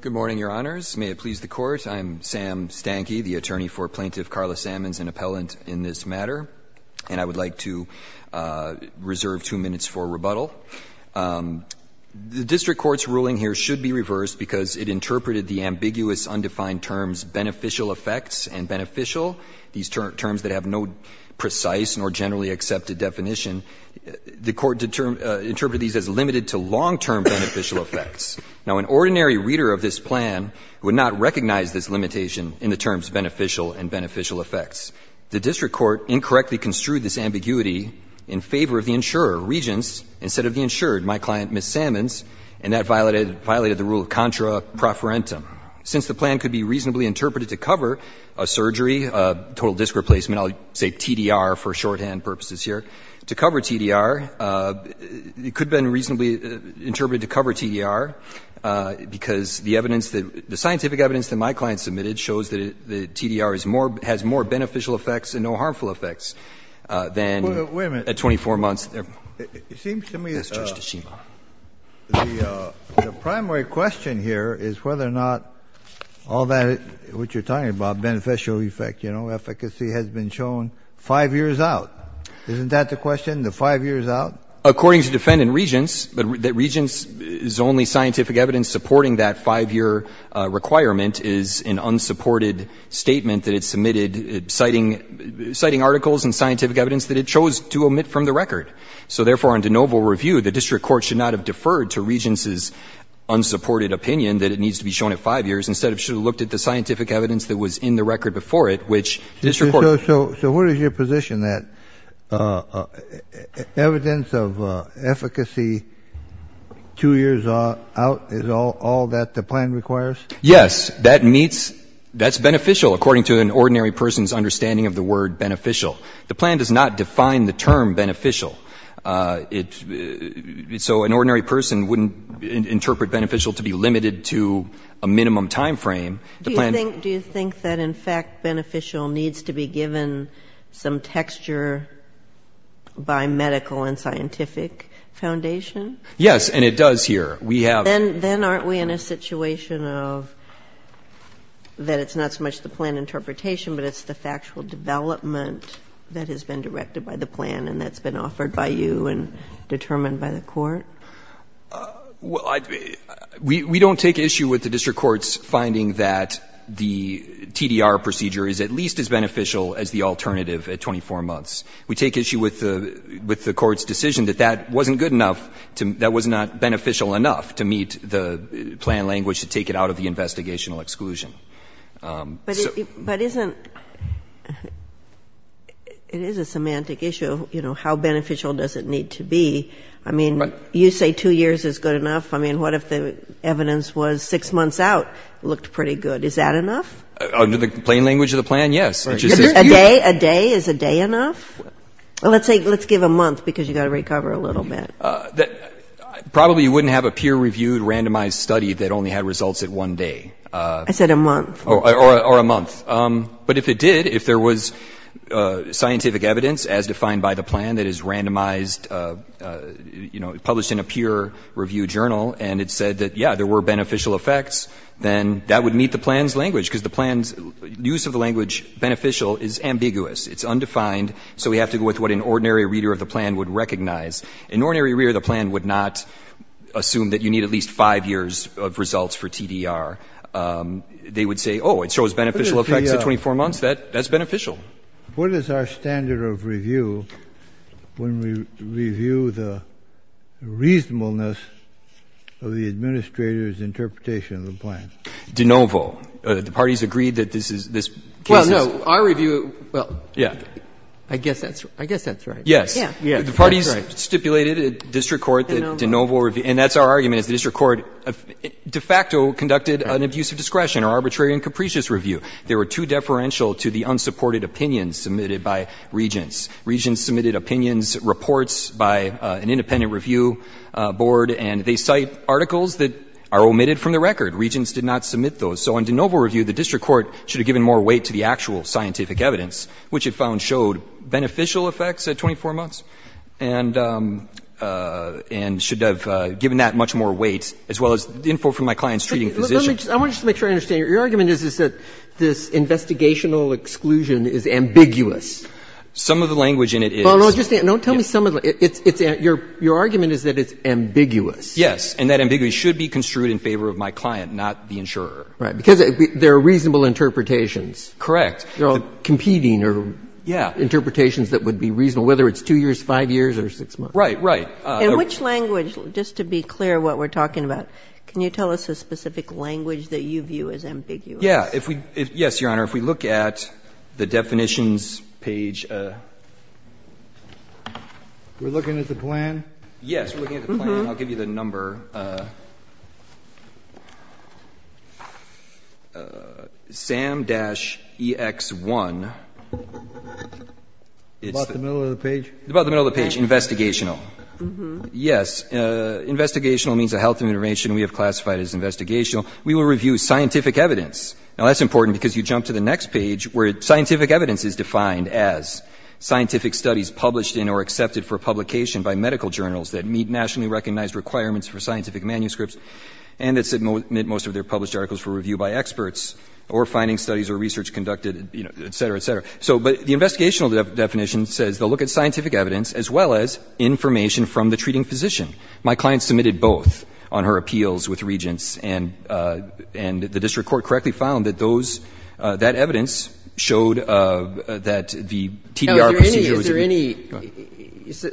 Good morning, Your Honors. May it please the Court. I am Sam Stanky, the attorney for Plaintiff Carla Sammons, an appellant in this matter, and I would like to reserve two minutes for rebuttal. The District Court's ruling here should be reversed because it interpreted the ambiguous, undefined terms beneficial effects and beneficial, these terms that have no precise nor generally accepted definition. The Court interpreted these as limited to long-term beneficial effects. Now, an ordinary reader of this plan would not recognize this limitation in the terms beneficial and beneficial effects. The District Court incorrectly construed this ambiguity in favor of the insurer, Regence, instead of the insured, my client, Ms. Sammons, and that violated the rule of contra proferentum. Since the plan could be reasonably interpreted to cover a surgery, total disc replacement, I'll say TDR for shorthand purposes here. To cover TDR, it could have been reasonably interpreted to cover TDR because the evidence that the scientific evidence that my client submitted shows that the TDR is more, has more beneficial effects and no harmful effects than at 24 months. Kennedy, it seems to me that the primary question here is whether or not the plaintiff is right. All that, what you're talking about, beneficial effect, you know, efficacy has been shown five years out. Isn't that the question, the five years out? According to defendant Regence, that Regence's only scientific evidence supporting that five-year requirement is an unsupported statement that it submitted, citing, citing articles and scientific evidence that it chose to omit from the record. So, therefore, on de novo review, the District Court should not have deferred to Regence's unsupported opinion that it needs to be shown at five years, instead it should have looked at the scientific evidence that was in the record before it, which the District Court So where is your position that evidence of efficacy two years out is all that the plan requires? Yes. That meets, that's beneficial according to an ordinary person's understanding of the word beneficial. The plan does not define the term beneficial. It, so an ordinary person wouldn't interpret beneficial to be limited to a minimum time frame. Do you think, do you think that in fact beneficial needs to be given some texture by medical and scientific foundation? Yes, and it does here. We have Then, then aren't we in a situation of, that it's not so much the plan interpretation but it's the factual development that has been directed by the plan and that's been Well, I, we don't take issue with the District Court's finding that the TDR procedure is at least as beneficial as the alternative at 24 months. We take issue with the, with the Court's decision that that wasn't good enough to, that was not beneficial enough to meet the plan language to take it out of the investigational exclusion. But isn't, it is a semantic issue, you know, how beneficial does it need to be? I mean, you say two years is good enough. I mean, what if the evidence was six months out looked pretty good. Is that enough? Under the plain language of the plan, yes. A day, a day, is a day enough? Let's say, let's give a month because you got to recover a little bit. Probably you wouldn't have a peer-reviewed randomized study that only had results at one day. I said a month. Or a month. But if it did, if there was scientific evidence as defined by the plan that is randomized, you know, published in a peer-reviewed journal, and it said that, yeah, there were beneficial effects, then that would meet the plan's language because the plan's use of the language beneficial is ambiguous. It's undefined. So we have to go with what an ordinary reader of the plan would recognize. An ordinary reader of the plan would not assume that you need at least five years of results for TDR. They would say, oh, it shows beneficial effects at 24 months. That's beneficial. What is our standard of review when we review the reasonableness of the administrator's interpretation of the plan? De novo. The parties agreed that this is, this case is well, no, our review, well, yeah, I guess that's, I guess that's right. Yes. Yeah. Yeah. The parties stipulated at district court that de novo review, and that's our argument is the district court de facto conducted an abuse of discretion or arbitrary and capricious review. There were two deferential to the unsupported opinions submitted by regents. Regents submitted opinions, reports by an independent review board, and they cite articles that are omitted from the record. Regents did not submit those. So on de novo review, the district court should have given more weight to the actual scientific evidence, which it found showed beneficial effects at 24 months and should have given that much more weight, as well as the info from my client's treating physician. I want to just make sure I understand. Your argument is that this investigational exclusion is ambiguous. Some of the language in it is. Well, no, just tell me some of the, it's, it's, your, your argument is that it's ambiguous. Yes. And that ambiguity should be construed in favor of my client, not the insurer. Right. Because there are reasonable interpretations. Correct. They're all competing or interpretations that would be reasonable, whether it's 2 years, 5 years or 6 months. Right. Right. In which language, just to be clear what we're talking about, can you tell us a specific language that you view as ambiguous? Yeah. If we, yes, Your Honor, if we look at the definitions page. We're looking at the plan? Yes. We're looking at the plan. I'll give you the number. Sam-EX1. About the middle of the page? About the middle of the page. Investigational. Yes. Investigational means a health intervention. We have classified it as investigational. We will review scientific evidence. Now, that's important because you jump to the next page where scientific evidence is defined as scientific studies published in or accepted for publication by medical journals that meet nationally recognized requirements for scientific manuscripts and that submit most of their published articles for review by experts or finding studies or research conducted, et cetera, et cetera. So, but the investigational definition says they'll look at scientific evidence as well as information from the treating physician. My client submitted both on her appeals with Regents and the district court correctly found that those, that evidence showed that the TDR procedure was. Is there any, so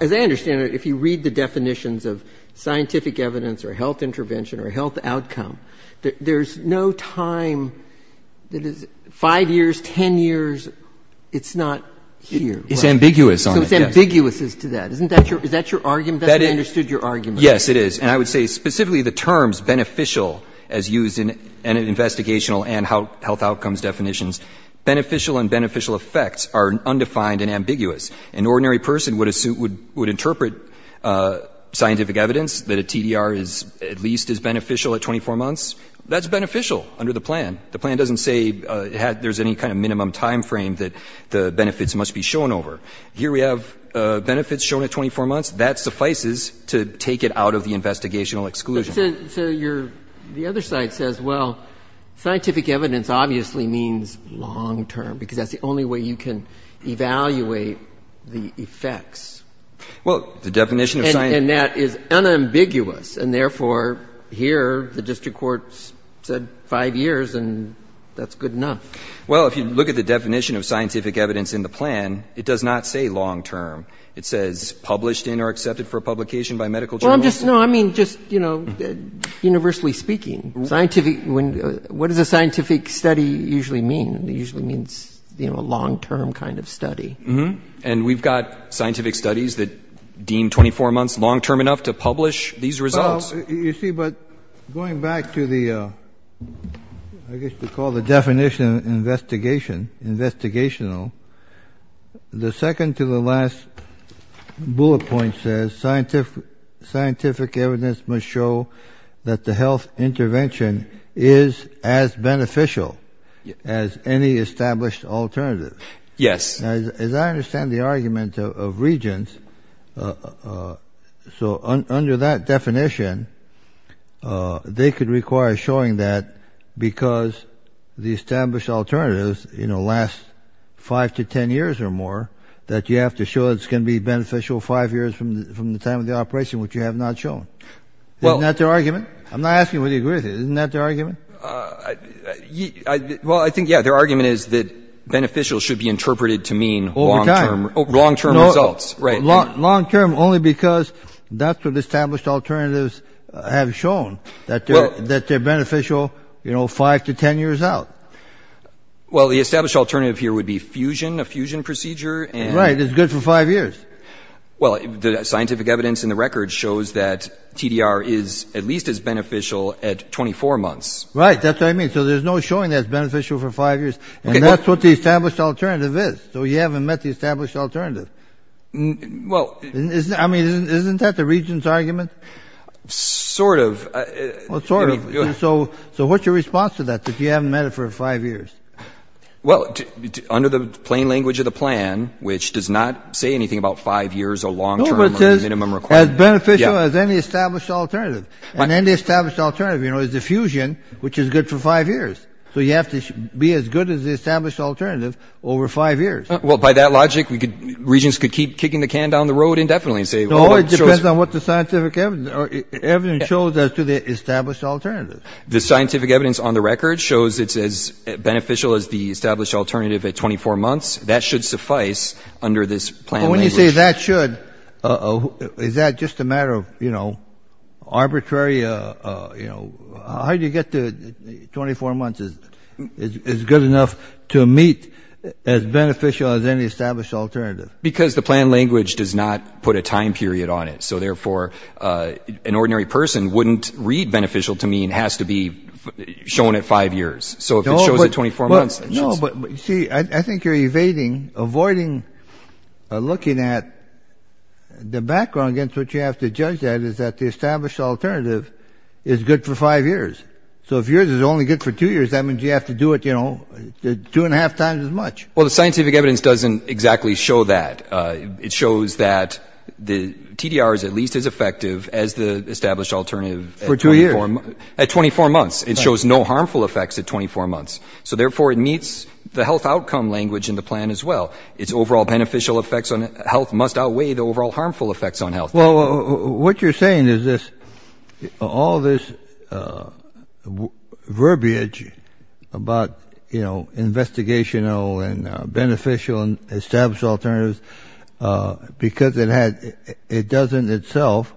as I understand it, if you read the definitions of scientific evidence or health intervention or health outcome, there's no time that is five years, 10 years, it's not here. It's ambiguous. So it's ambiguous as to that. Isn't that your, is that your argument? That's how I understood your argument. Yes, it is. And I would say specifically the terms beneficial as used in an investigational and health outcomes definitions, beneficial and beneficial effects are undefined and ambiguous. An ordinary person would assume, would interpret scientific evidence that a TDR is at least as beneficial at 24 months. That's beneficial under the plan. The plan doesn't say there's any kind of minimum time frame that the benefits must be shown over. Here we have benefits shown at 24 months. That suffices to take it out of the investigational exclusion. But, so your, the other side says, well, scientific evidence obviously means long term, because that's the only way you can evaluate the effects. Well, the definition of scientific. And that is unambiguous, and therefore here the district court said five years and that's good enough. Well, if you look at the definition of scientific evidence in the plan, it does not say long-term. It says published in or accepted for publication by medical journals. No, I mean, just, you know, universally speaking, scientific, what does a scientific study usually mean? It usually means, you know, a long-term kind of study. And we've got scientific studies that deem 24 months long-term enough to publish these results. Well, you see, but going back to the, I guess we call the definition investigation, investigational, the second to the last bullet point says scientific, scientific evidence must show that the health intervention is as beneficial as any established alternative. Yes. As I understand the argument of regents, so under that definition, they could require showing that because the established alternatives, you know, last five to 10 years or more, that you have to show it's going to be beneficial five years from the time of the operation, which you have not shown. Isn't that their argument? I'm not asking whether you agree with it. Isn't that their argument? Well, I think, yeah, their argument is that beneficial should be interpreted to mean long-term results. Long-term only because that's what established alternatives have shown, that they're beneficial, you know, five to 10 years out. Well, the established alternative here would be fusion, a fusion procedure. Right, it's good for five years. Well, the scientific evidence in the record shows that TDR is at least as beneficial at 24 months. Right, that's what I mean. So there's no showing that it's beneficial for five years. And that's what the established alternative is. So you haven't met the established alternative. I mean, isn't that the region's argument? Sort of. Well, sort of. So what's your response to that, that you haven't met it for five years? Well, under the plain language of the plan, which does not say anything about five years, a long-term minimum requirement. As beneficial as any established alternative. And any established alternative, you know, is the fusion, which is good for the established alternative, over five years. Well, by that logic, regions could keep kicking the can down the road indefinitely. No, it depends on what the scientific evidence shows as to the established alternative. The scientific evidence on the record shows it's as beneficial as the established alternative at 24 months. That should suffice under this plan. When you say that should, is that just a matter of, you know, arbitrary, you know, how do you get to 24 months is good enough to meet as beneficial as any established alternative? Because the plan language does not put a time period on it. So therefore, an ordinary person wouldn't read beneficial to mean it has to be shown at five years. So if it shows at 24 months... No, but see, I think you're evading, avoiding looking at the background against which you have to judge that is that the established alternative is good for five years. So if yours is only good for two years, that means you have to do it, you know, two and a half times as much. Well, the scientific evidence doesn't exactly show that. It shows that the TDR is at least as effective as the established alternative. For two years. At 24 months, it shows no harmful effects at 24 months. So therefore, it meets the health outcome language in the plan as well. Its overall beneficial effects on health must outweigh the overall harmful effects on health. Well, what you're saying is this, all this verbiage about, you know, investigational and beneficial and established alternatives, because it doesn't itself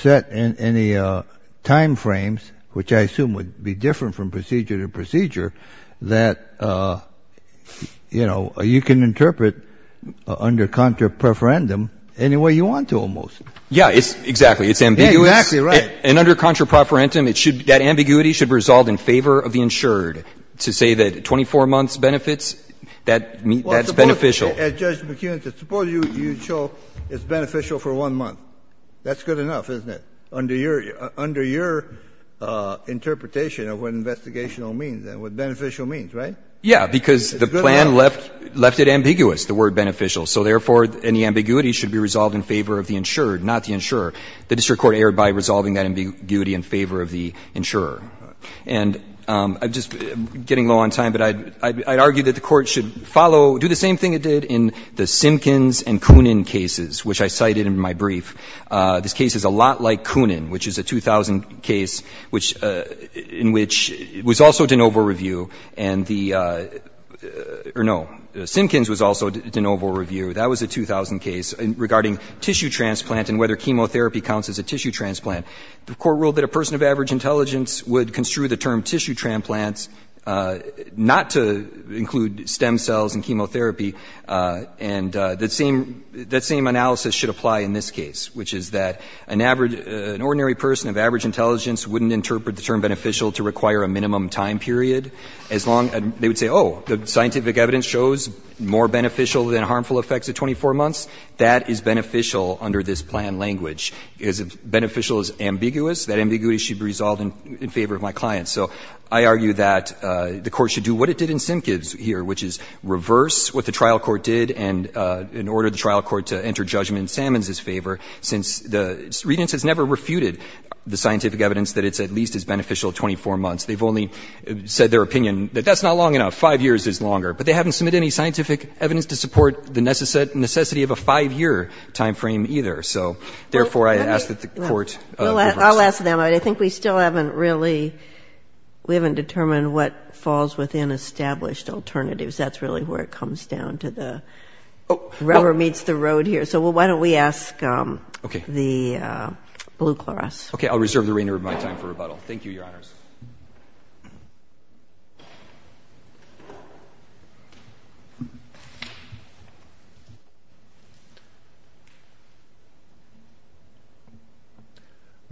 set in any time frames, which I assume would be different from procedure to procedure, that, you know, you can interpret under contra preferendum any way you want to almost. Yeah, exactly. It's ambiguous. Exactly right. And under contra preferendum, that ambiguity should result in favor of the insured to say that 24 months benefits, that's beneficial. As Judge McKeon says, suppose you show it's beneficial for one month. That's good enough, isn't it? Under your interpretation of what investigational means and what beneficial means, right? Yeah, because the plan left it ambiguous, the word beneficial. So therefore, any ambiguity should be resolved in favor of the insured, not the insurer. The district court erred by resolving that ambiguity in favor of the insurer. And I'm just getting low on time, but I'd argue that the Court should follow, do the same thing it did in the Simkins and Kunin cases, which I cited in my brief. This case is a lot like Kunin, which is a 2000 case in which it was also de novo review, and the — or no, Simkins was also de novo review. That was a 2000 case regarding tissue transplant and whether chemotherapy counts as a tissue transplant. The Court ruled that a person of average intelligence would construe the term tissue transplants not to include stem cells in chemotherapy, and that same analysis should apply in this case, which is that an average — an ordinary person of average intelligence wouldn't interpret the term beneficial to require a minimum time period. As long — they would say, oh, the scientific evidence shows more beneficial than harmful effects at 24 months. That is beneficial under this plan language. Is beneficial is ambiguous. That ambiguity should be resolved in favor of my client. So I argue that the Court should do what it did in Simkins here, which is reverse what the trial court did, and in order the trial court to enter judgment in Sammons' favor, since the — Redent's has never refuted the scientific evidence that it's at least as beneficial at 24 months. They've only said their opinion that that's not long enough. Five years is longer. But they haven't submitted any scientific evidence to support the necessity of a five-year time frame either. So therefore, I ask that the Court reverse it. I'll ask them. I think we still haven't really — we haven't determined what falls within established alternatives. That's really where it comes down to the — whoever meets the road here. So why don't we ask the Blue Clarus. Okay. I'll reserve the remainder of my time for rebuttal. Thank you, Your Honors.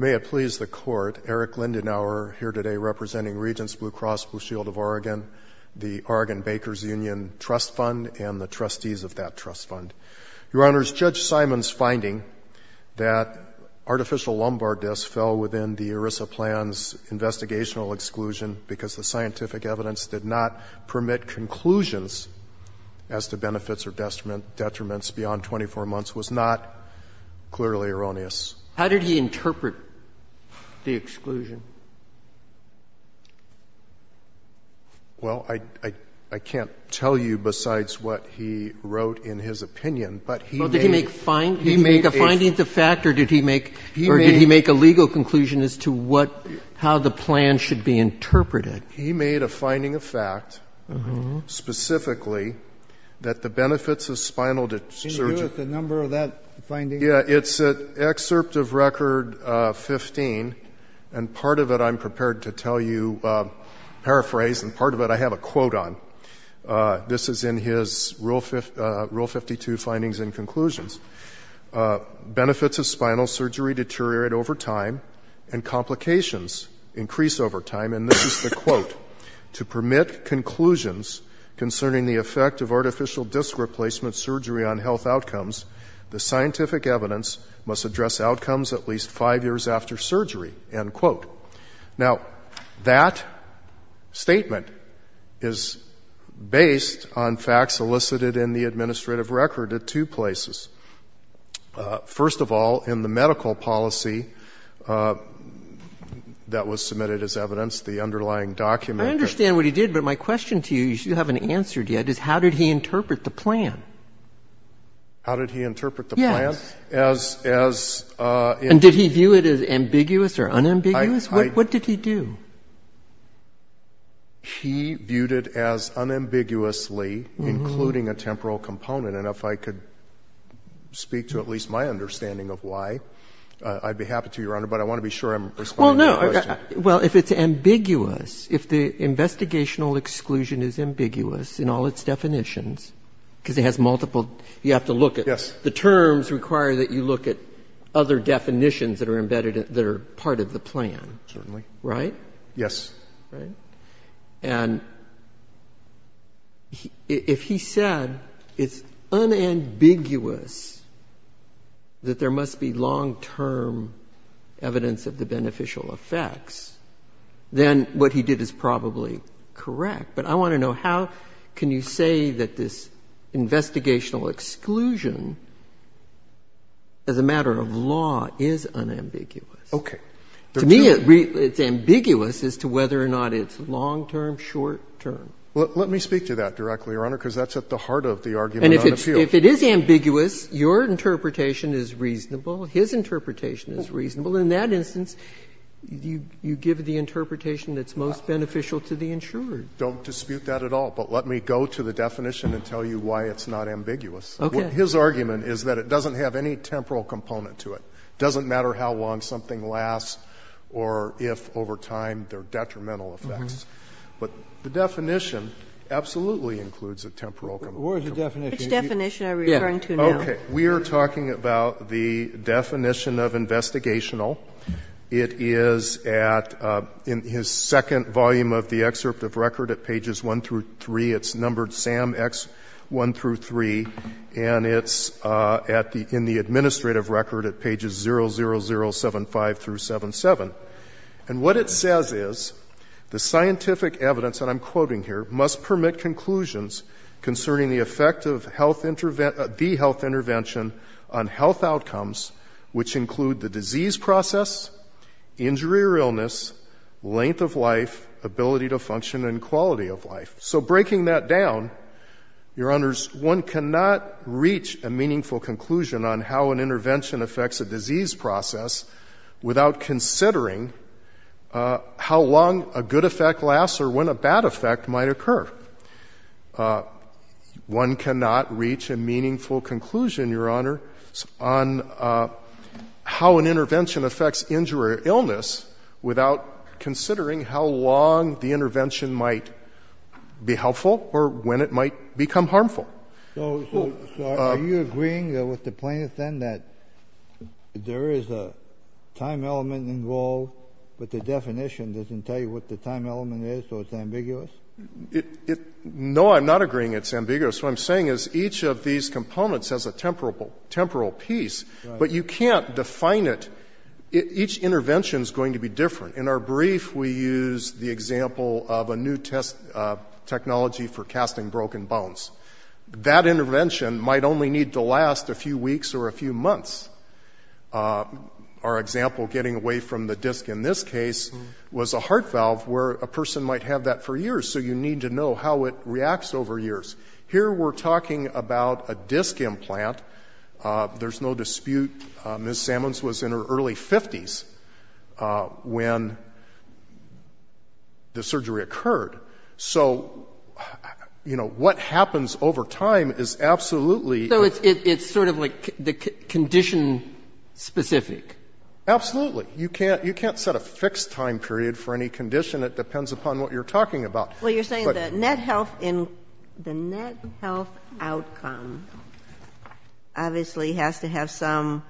May it please the Court, Eric Lindenauer here today representing Regents Blue Cross Blue Shield of Oregon, the Oregon Bakers Union Trust Fund, and the trustees of that trust fund. Your Honors, Judge Simon's finding that artificial lumbar disc fell within the ERISA plan's investigational exclusion because the scientific evidence did not permit conclusions as to benefits or detriments beyond 24 months was not clearly erroneous. How did he interpret the exclusion? Well, I can't tell you besides what he wrote in his opinion, but he made — Well, did he make a finding of fact or did he make a legal conclusion as to what — how the plan should be interpreted? He made a finding of fact specifically that the benefits of spinal — Can you give us the number of that finding? Yeah. It's an excerpt of Record 15, and part of it I'm prepared to tell you, paraphrase, and part of it I have a quote on. This is in his Rule 52 findings and conclusions. Benefits of spinal surgery deteriorate over time and complications increase over time, and this is the quote. To permit conclusions concerning the effect of artificial disc replacement surgery on outcomes, the scientific evidence must address outcomes at least five years after surgery, end quote. Now, that statement is based on facts elicited in the administrative record at two places. First of all, in the medical policy that was submitted as evidence, the underlying document that — I understand what he did, but my question to you, you haven't answered yet, is how did he interpret the plan? How did he interpret the plan? Yes. As — And did he view it as ambiguous or unambiguous? What did he do? He viewed it as unambiguously including a temporal component, and if I could speak to at least my understanding of why, I'd be happy to, Your Honor, but I want to be sure I'm responding to the question. Well, if it's ambiguous, if the investigational exclusion is ambiguous in all its The terms require that you look at other definitions that are embedded that are part of the plan. Certainly. Right? Yes. Right. And if he said it's unambiguous that there must be long-term evidence of the beneficial effects, then what he did is probably correct, but I want to know how can you say that this investigational exclusion as a matter of law is unambiguous? Okay. To me, it's ambiguous as to whether or not it's long-term, short-term. Well, let me speak to that directly, Your Honor, because that's at the heart of the argument on appeal. And if it is ambiguous, your interpretation is reasonable, his interpretation is reasonable. In that instance, you give the interpretation that's most beneficial to the insurer. Don't dispute that at all. But let me go to the definition and tell you why it's not ambiguous. Okay. His argument is that it doesn't have any temporal component to it. It doesn't matter how long something lasts or if over time there are detrimental effects. But the definition absolutely includes a temporal component. Where is the definition? Which definition are we referring to now? Okay. We are talking about the definition of investigational. It is at, in his second volume of the excerpt of record at pages one through three, it's numbered SAM X one through three, and it's at the, in the administrative record at pages zero, zero, zero, seven, five through seven, seven. And what it says is the scientific evidence that I'm quoting here must permit conclusions concerning the effect of health, the health intervention on health outcomes, which include the disease process, injury or illness, length of life, ability to function and quality of life. So breaking that down, your honors, one cannot reach a meaningful conclusion on how an intervention affects a disease process without considering how long a good effect lasts or when a bad effect might occur. One cannot reach a meaningful conclusion, your honor, on how an intervention affects injury or illness without considering how long the intervention might be helpful or when it might become harmful. So are you agreeing with the plaintiff then that there is a time element involved, but the definition doesn't tell you what the time element is, so it's ambiguous? No, I'm not agreeing it's ambiguous. What I'm saying is each of these components has a temporal piece, but you can't define it. Each intervention is going to be different. In our brief, we use the example of a new test technology for casting broken bones. That intervention might only need to last a few weeks or a few months. Our example, getting away from the disc in this case was a heart valve where a person might have that for years, so you need to know how it reacts over years. Here we're talking about a disc implant. There's no dispute. Ms. Sammons was in her early 50s when the surgery occurred. So, you know, what happens over time is absolutely... So it's sort of like the condition specific? Absolutely. You can't set a fixed time period for any condition. It depends upon what you're talking about. Well, you're saying that the net health outcome obviously has to have some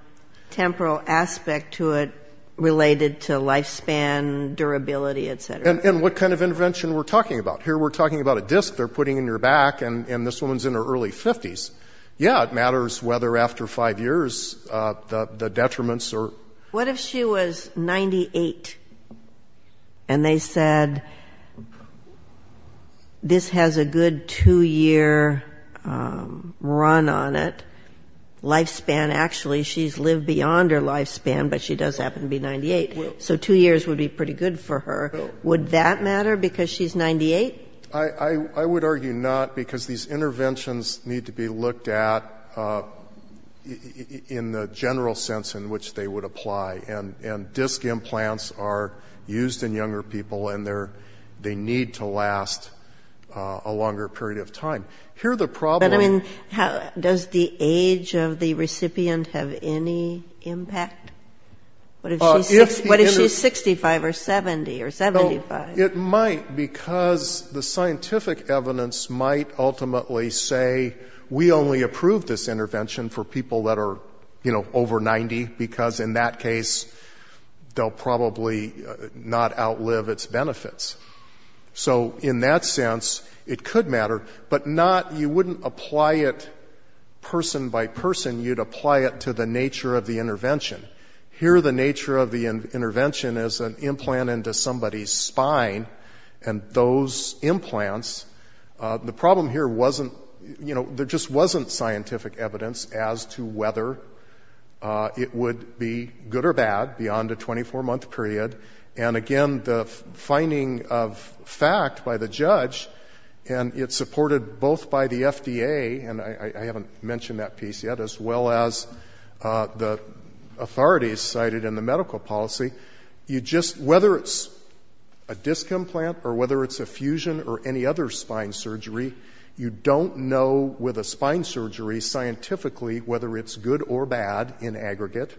temporal aspect to it related to lifespan, durability, et cetera. And what kind of intervention we're talking about? Here we're talking about a disc they're putting in your back and this woman's in her early 50s. Yeah, it matters whether after five years the detriments are... What if she was 98 and they said this has a good two-year run on it? Lifespan, actually, she's lived beyond her lifespan, but she does happen to be 98. So two years would be pretty good for her. Would that matter because she's 98? I would argue not because these interventions need to be looked at in the general sense in which they would apply and disc implants are used in younger people and they need to last a longer period of time. Here the problem... But I mean, does the age of the recipient have any impact? What if she's 65 or 70 or 75? It might because the scientific evidence might ultimately say we only approve this because in that case they'll probably not outlive its benefits. So in that sense, it could matter, but not... You wouldn't apply it person by person. You'd apply it to the nature of the intervention. Here the nature of the intervention is an implant into somebody's spine and those implants... The problem here wasn't... There just wasn't scientific evidence as to whether it would be good or bad beyond a 24-month period. And again, the finding of fact by the judge, and it's supported both by the FDA, and I haven't mentioned that piece yet, as well as the authorities cited in the medical policy, you just... You don't know with a spine surgery scientifically whether it's good or bad in aggregate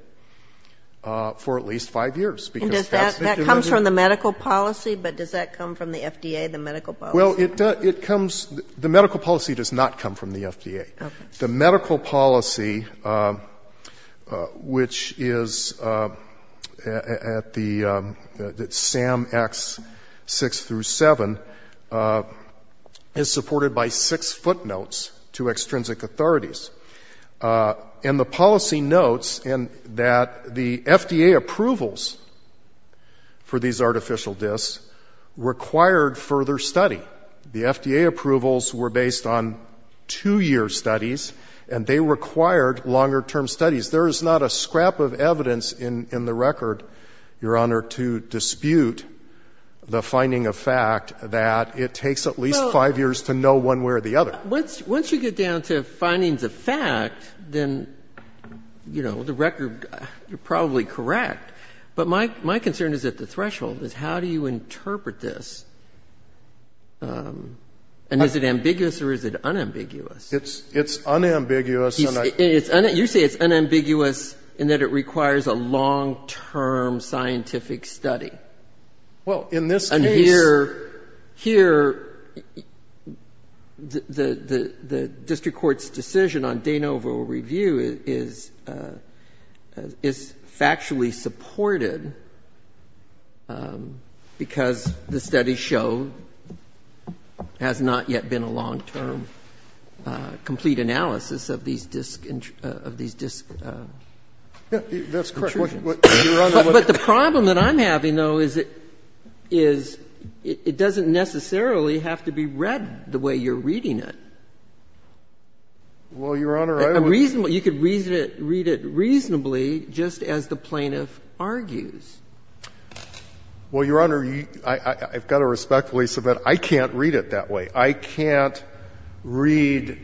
for at least five years. That comes from the medical policy, but does that come from the FDA, the medical policy? Well, it comes... The medical policy, which is at the SAM X6-7, is supported by six footnotes to extrinsic authorities. And the policy notes that the FDA approvals for these artificial discs required further study. The FDA approvals were based on two-year studies, and they required longer-term studies. There is not a scrap of evidence in the record, Your Honor, to dispute the finding of fact that it takes at least five years to know one way or the other. Well, once you get down to findings of fact, then, you know, the record, you're probably correct. But my concern is at the threshold, is how do you interpret this? And is it ambiguous or is it unambiguous? It's unambiguous, and I... You say it's unambiguous in that it requires a long-term scientific study. Well, in this case... Here, the district court's decision on de novo review is factually supported because the studies show there has not yet been a long-term complete analysis of these disc intrusions. That's correct. But, Your Honor, what... But the problem that I'm having, though, is it doesn't necessarily have to be read the way you're reading it. Well, Your Honor, I would... You could read it reasonably just as the plaintiff argues. Well, Your Honor, I've got to respectfully submit, I can't read it that way. I can't read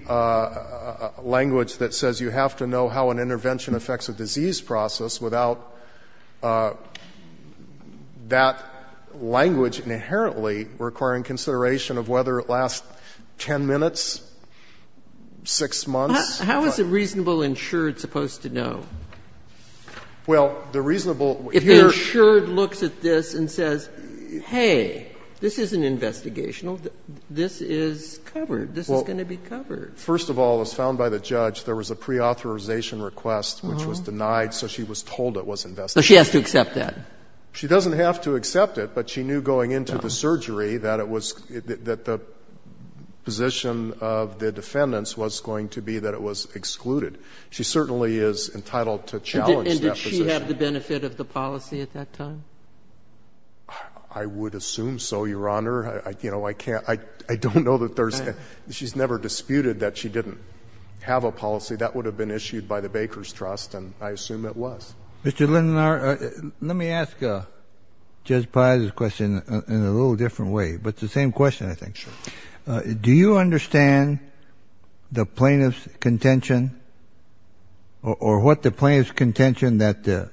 language that says you have to know how an intervention affects a disease process without that language inherently requiring consideration of whether it lasts 10 minutes, 6 months... How is a reasonable insured supposed to know? Well, the reasonable... If the insured looks at this and says, hey, this isn't investigational, this is covered. This is going to be covered. First of all, as found by the judge, there was a preauthorization request which was denied, so she was told it was investigational. So she has to accept that. She doesn't have to accept it, but she knew going into the surgery that it was... that the position of the defendants was going to be that it was excluded. She certainly is entitled to challenge that position. And did she have the benefit of the policy at that time? I would assume so, Your Honor. You know, I can't... I don't know that there's... She's never disputed that she didn't have a policy. That would have been issued by the Baker's Trust, and I assume it was. Mr. Lindenauer, let me ask Judge Paz's question in a little different way, but it's the same question, I think. Sure. Do you understand the plaintiff's contention or what the plaintiff's contention that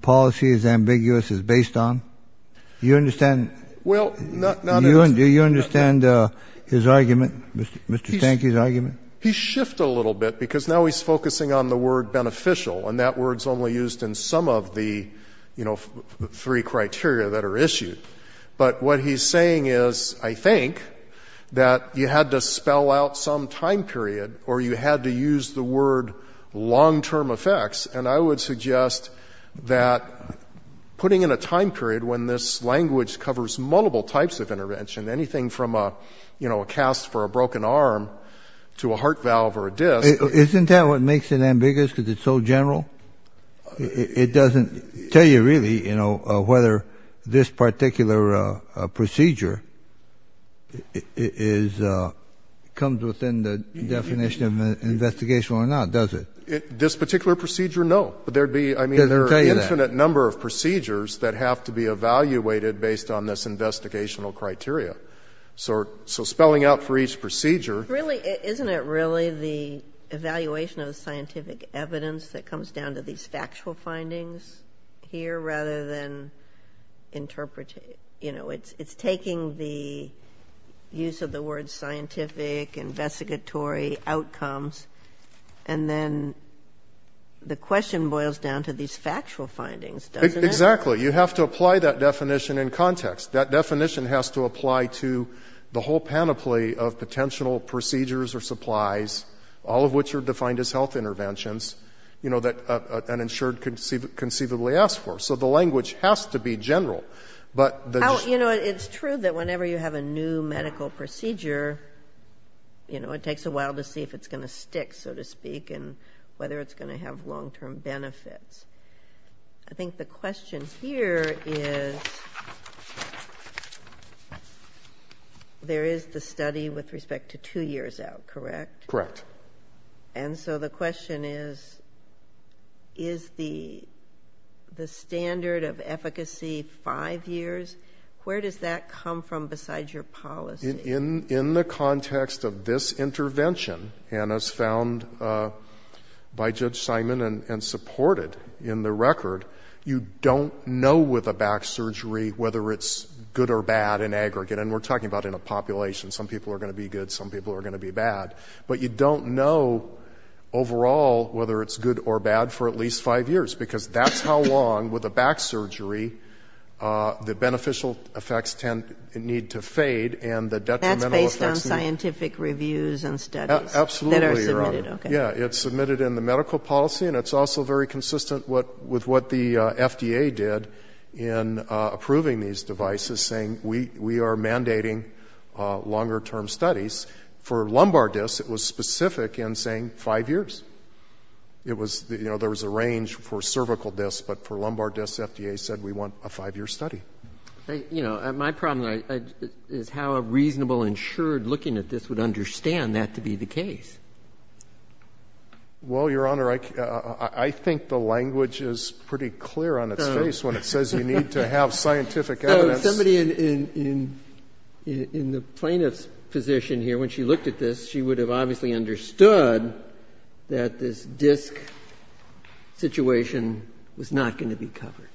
policy is ambiguous is based on? Do you understand? Well, not... Do you understand his argument, Mr. Stanky's argument? He's shifted a little bit because now he's focusing on the word beneficial, and that word's only used in some of the, you know, three criteria that are issued. But what he's saying is, I think, that you had to spell out some time period or you had to use the word long-term effects. And I would suggest that putting in a time period when this language covers multiple types of intervention, anything from a, you know, a cast for a broken arm to a heart valve or a disc... Isn't that what makes it ambiguous because it's so general? It doesn't tell you really, you know, whether this particular procedure is... comes within the definition of an investigation or not, does it? This particular procedure, no. But there'd be, I mean, there are an infinite number of procedures that have to be evaluated based on this investigational criteria. So spelling out for each procedure... Really, isn't it really the evaluation of the scientific evidence that comes down to these factual findings here rather than interpret... You know, it's taking the use of the word scientific investigatory outcomes and then the question boils down to these factual findings, doesn't it? Exactly. You have to apply that definition in context. That definition has to apply to the whole panoply of potential procedures or supplies, all of which are defined as health interventions, you know, that an insured could conceivably ask for. So the language has to be general. But the... You know, it's true that whenever you have a new medical procedure, you know, it takes a while to see if it's going to stick, so to speak, and whether it's going to have long-term benefits. I think the question here is... There is the study with respect to two years out, correct? Correct. And so the question is, is the standard of efficacy five years? Where does that come from besides your policy? In the context of this intervention, and as found by Judge Simon and supported in the record, you don't know with a back surgery whether it's good or bad in aggregate. And we're talking about in a population. Some people are going to be good. Some people are going to be bad. But you don't know overall whether it's good or bad for at least five years, because that's how long with a back surgery the beneficial effects need to fade and the detrimental effects... That's based on scientific reviews and studies? Absolutely, Your Honor. Yeah, it's submitted in the medical policy, and it's also very consistent with what the FDA did in approving these devices, saying we are mandating longer-term studies. For lumbar discs, it was specific in saying five years. It was, you know, there was a range for cervical discs, but for lumbar discs, FDA said we want a five-year study. You know, my problem is how a reasonable, insured looking at this would understand that to be the case. Well, Your Honor, I think the language is pretty clear on its face when it says you need to have scientific evidence. Somebody in the plaintiff's position here, when she looked at this, she would have obviously understood that this disc situation was not going to be covered.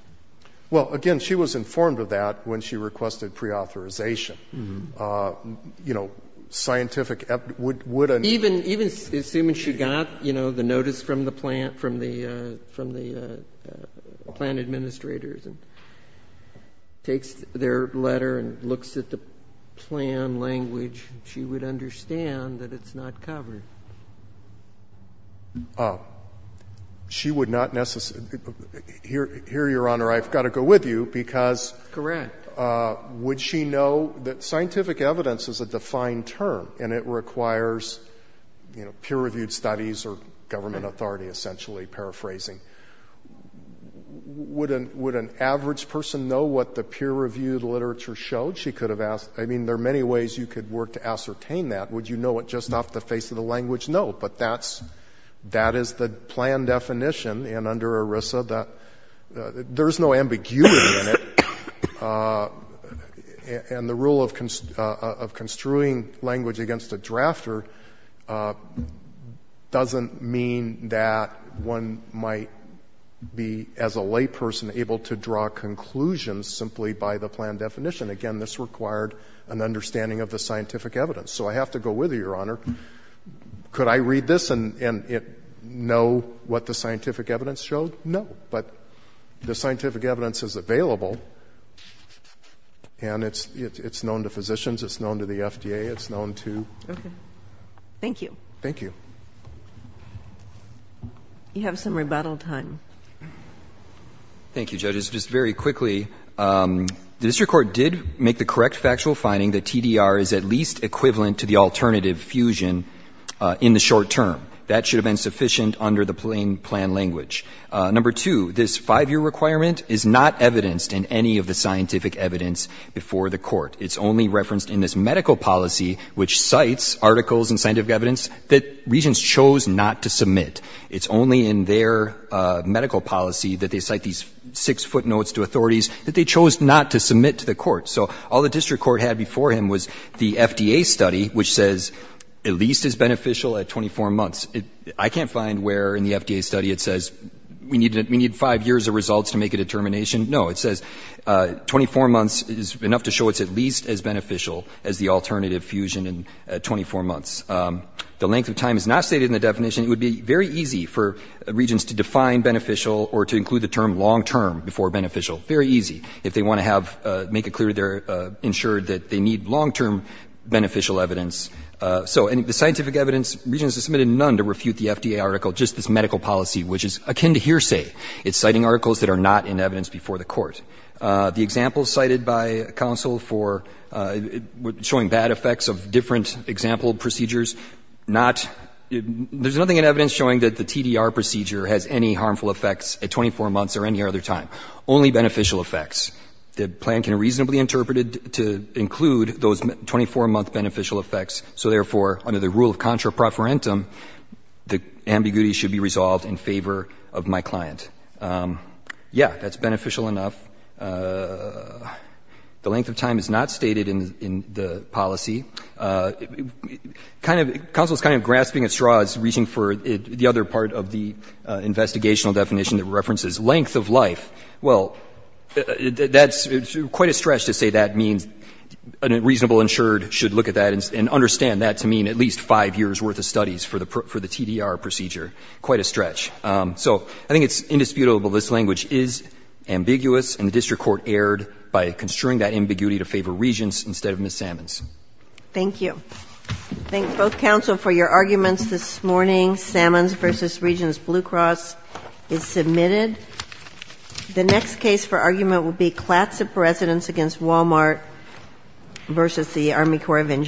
Well, again, she was informed of that when she requested preauthorization. You know, scientific evidence would... Even assuming she got, you know, the notice from the plant administrators and takes their letter and looks at the plan language, she would understand that it's not covered. She would not necessarily... Here, Your Honor, I've got to go with you because... Correct. Would she know that scientific evidence is a defined term and it requires, you know, peer-reviewed studies or government authority, essentially, paraphrasing. Would an average person know what the peer-reviewed literature showed? She could have asked. I mean, there are many ways you could work to ascertain that. Would you know it just off the face of the language? No, but that is the plan definition. And under ERISA, there's no ambiguity in it. And the rule of construing language against a drafter doesn't mean that one might be, as a layperson, able to draw conclusions simply by the plan definition. Again, this required an understanding of the scientific evidence. So I have to go with you, Your Honor. Could I read this and know what the scientific evidence showed? No, but the scientific evidence is available and it's known to physicians, it's known to the FDA, it's known to... Okay. Thank you. Thank you. You have some rebuttal time. Thank you, judges. Just very quickly, the district court did make the correct factual finding that TDR is at least equivalent to the alternative fusion in the short term. That should have been sufficient under the plain plan language. Number two, this five-year requirement is not evidenced in any of the scientific evidence before the court. It's only referenced in this medical policy, which cites articles and scientific evidence that regents chose not to submit. It's only in their medical policy that they cite these six footnotes to authorities that they chose not to submit to the court. So all the district court had before him was the FDA study, which says at least is beneficial at 24 months. I can't find where in the FDA study it says we need five years of results to make a determination. No, it says 24 months is enough to show it's at least as beneficial as the alternative fusion in 24 months. The length of time is not stated in the definition. It would be very easy for regents to define beneficial or to include the term long-term before beneficial. Very easy. If they want to have, make it clear they're ensured that they need long-term beneficial evidence. So in the scientific evidence, regents have submitted none to refute the FDA article, just this medical policy, which is akin to hearsay. It's citing articles that are not in evidence before the court. The examples cited by counsel for showing bad effects of different example procedures, not — there's nothing in evidence showing that the TDR procedure has any harmful effects at 24 months or any other time. Only beneficial effects. The plan can reasonably interpret it to include those 24-month beneficial effects. So therefore, under the rule of contra preferentum, the ambiguity should be resolved in favor of my client. Yeah, that's beneficial enough. The length of time is not stated in the policy. Kind of — counsel's kind of grasping at straws, reaching for the other part of the Well, that's quite a stretch to say that means a reasonable insured should look at that and understand that to mean at least five years' worth of studies for the TDR procedure. Quite a stretch. So I think it's indisputable this language is ambiguous, and the district court erred by construing that ambiguity to favor regents instead of Ms. Sammons. Thank you. Thank both counsel for your arguments this morning. Sammons v. Regents Blue Cross is submitted. The next case for argument would be Clatsop Residence v. Walmart v. Army Corps of Engineers.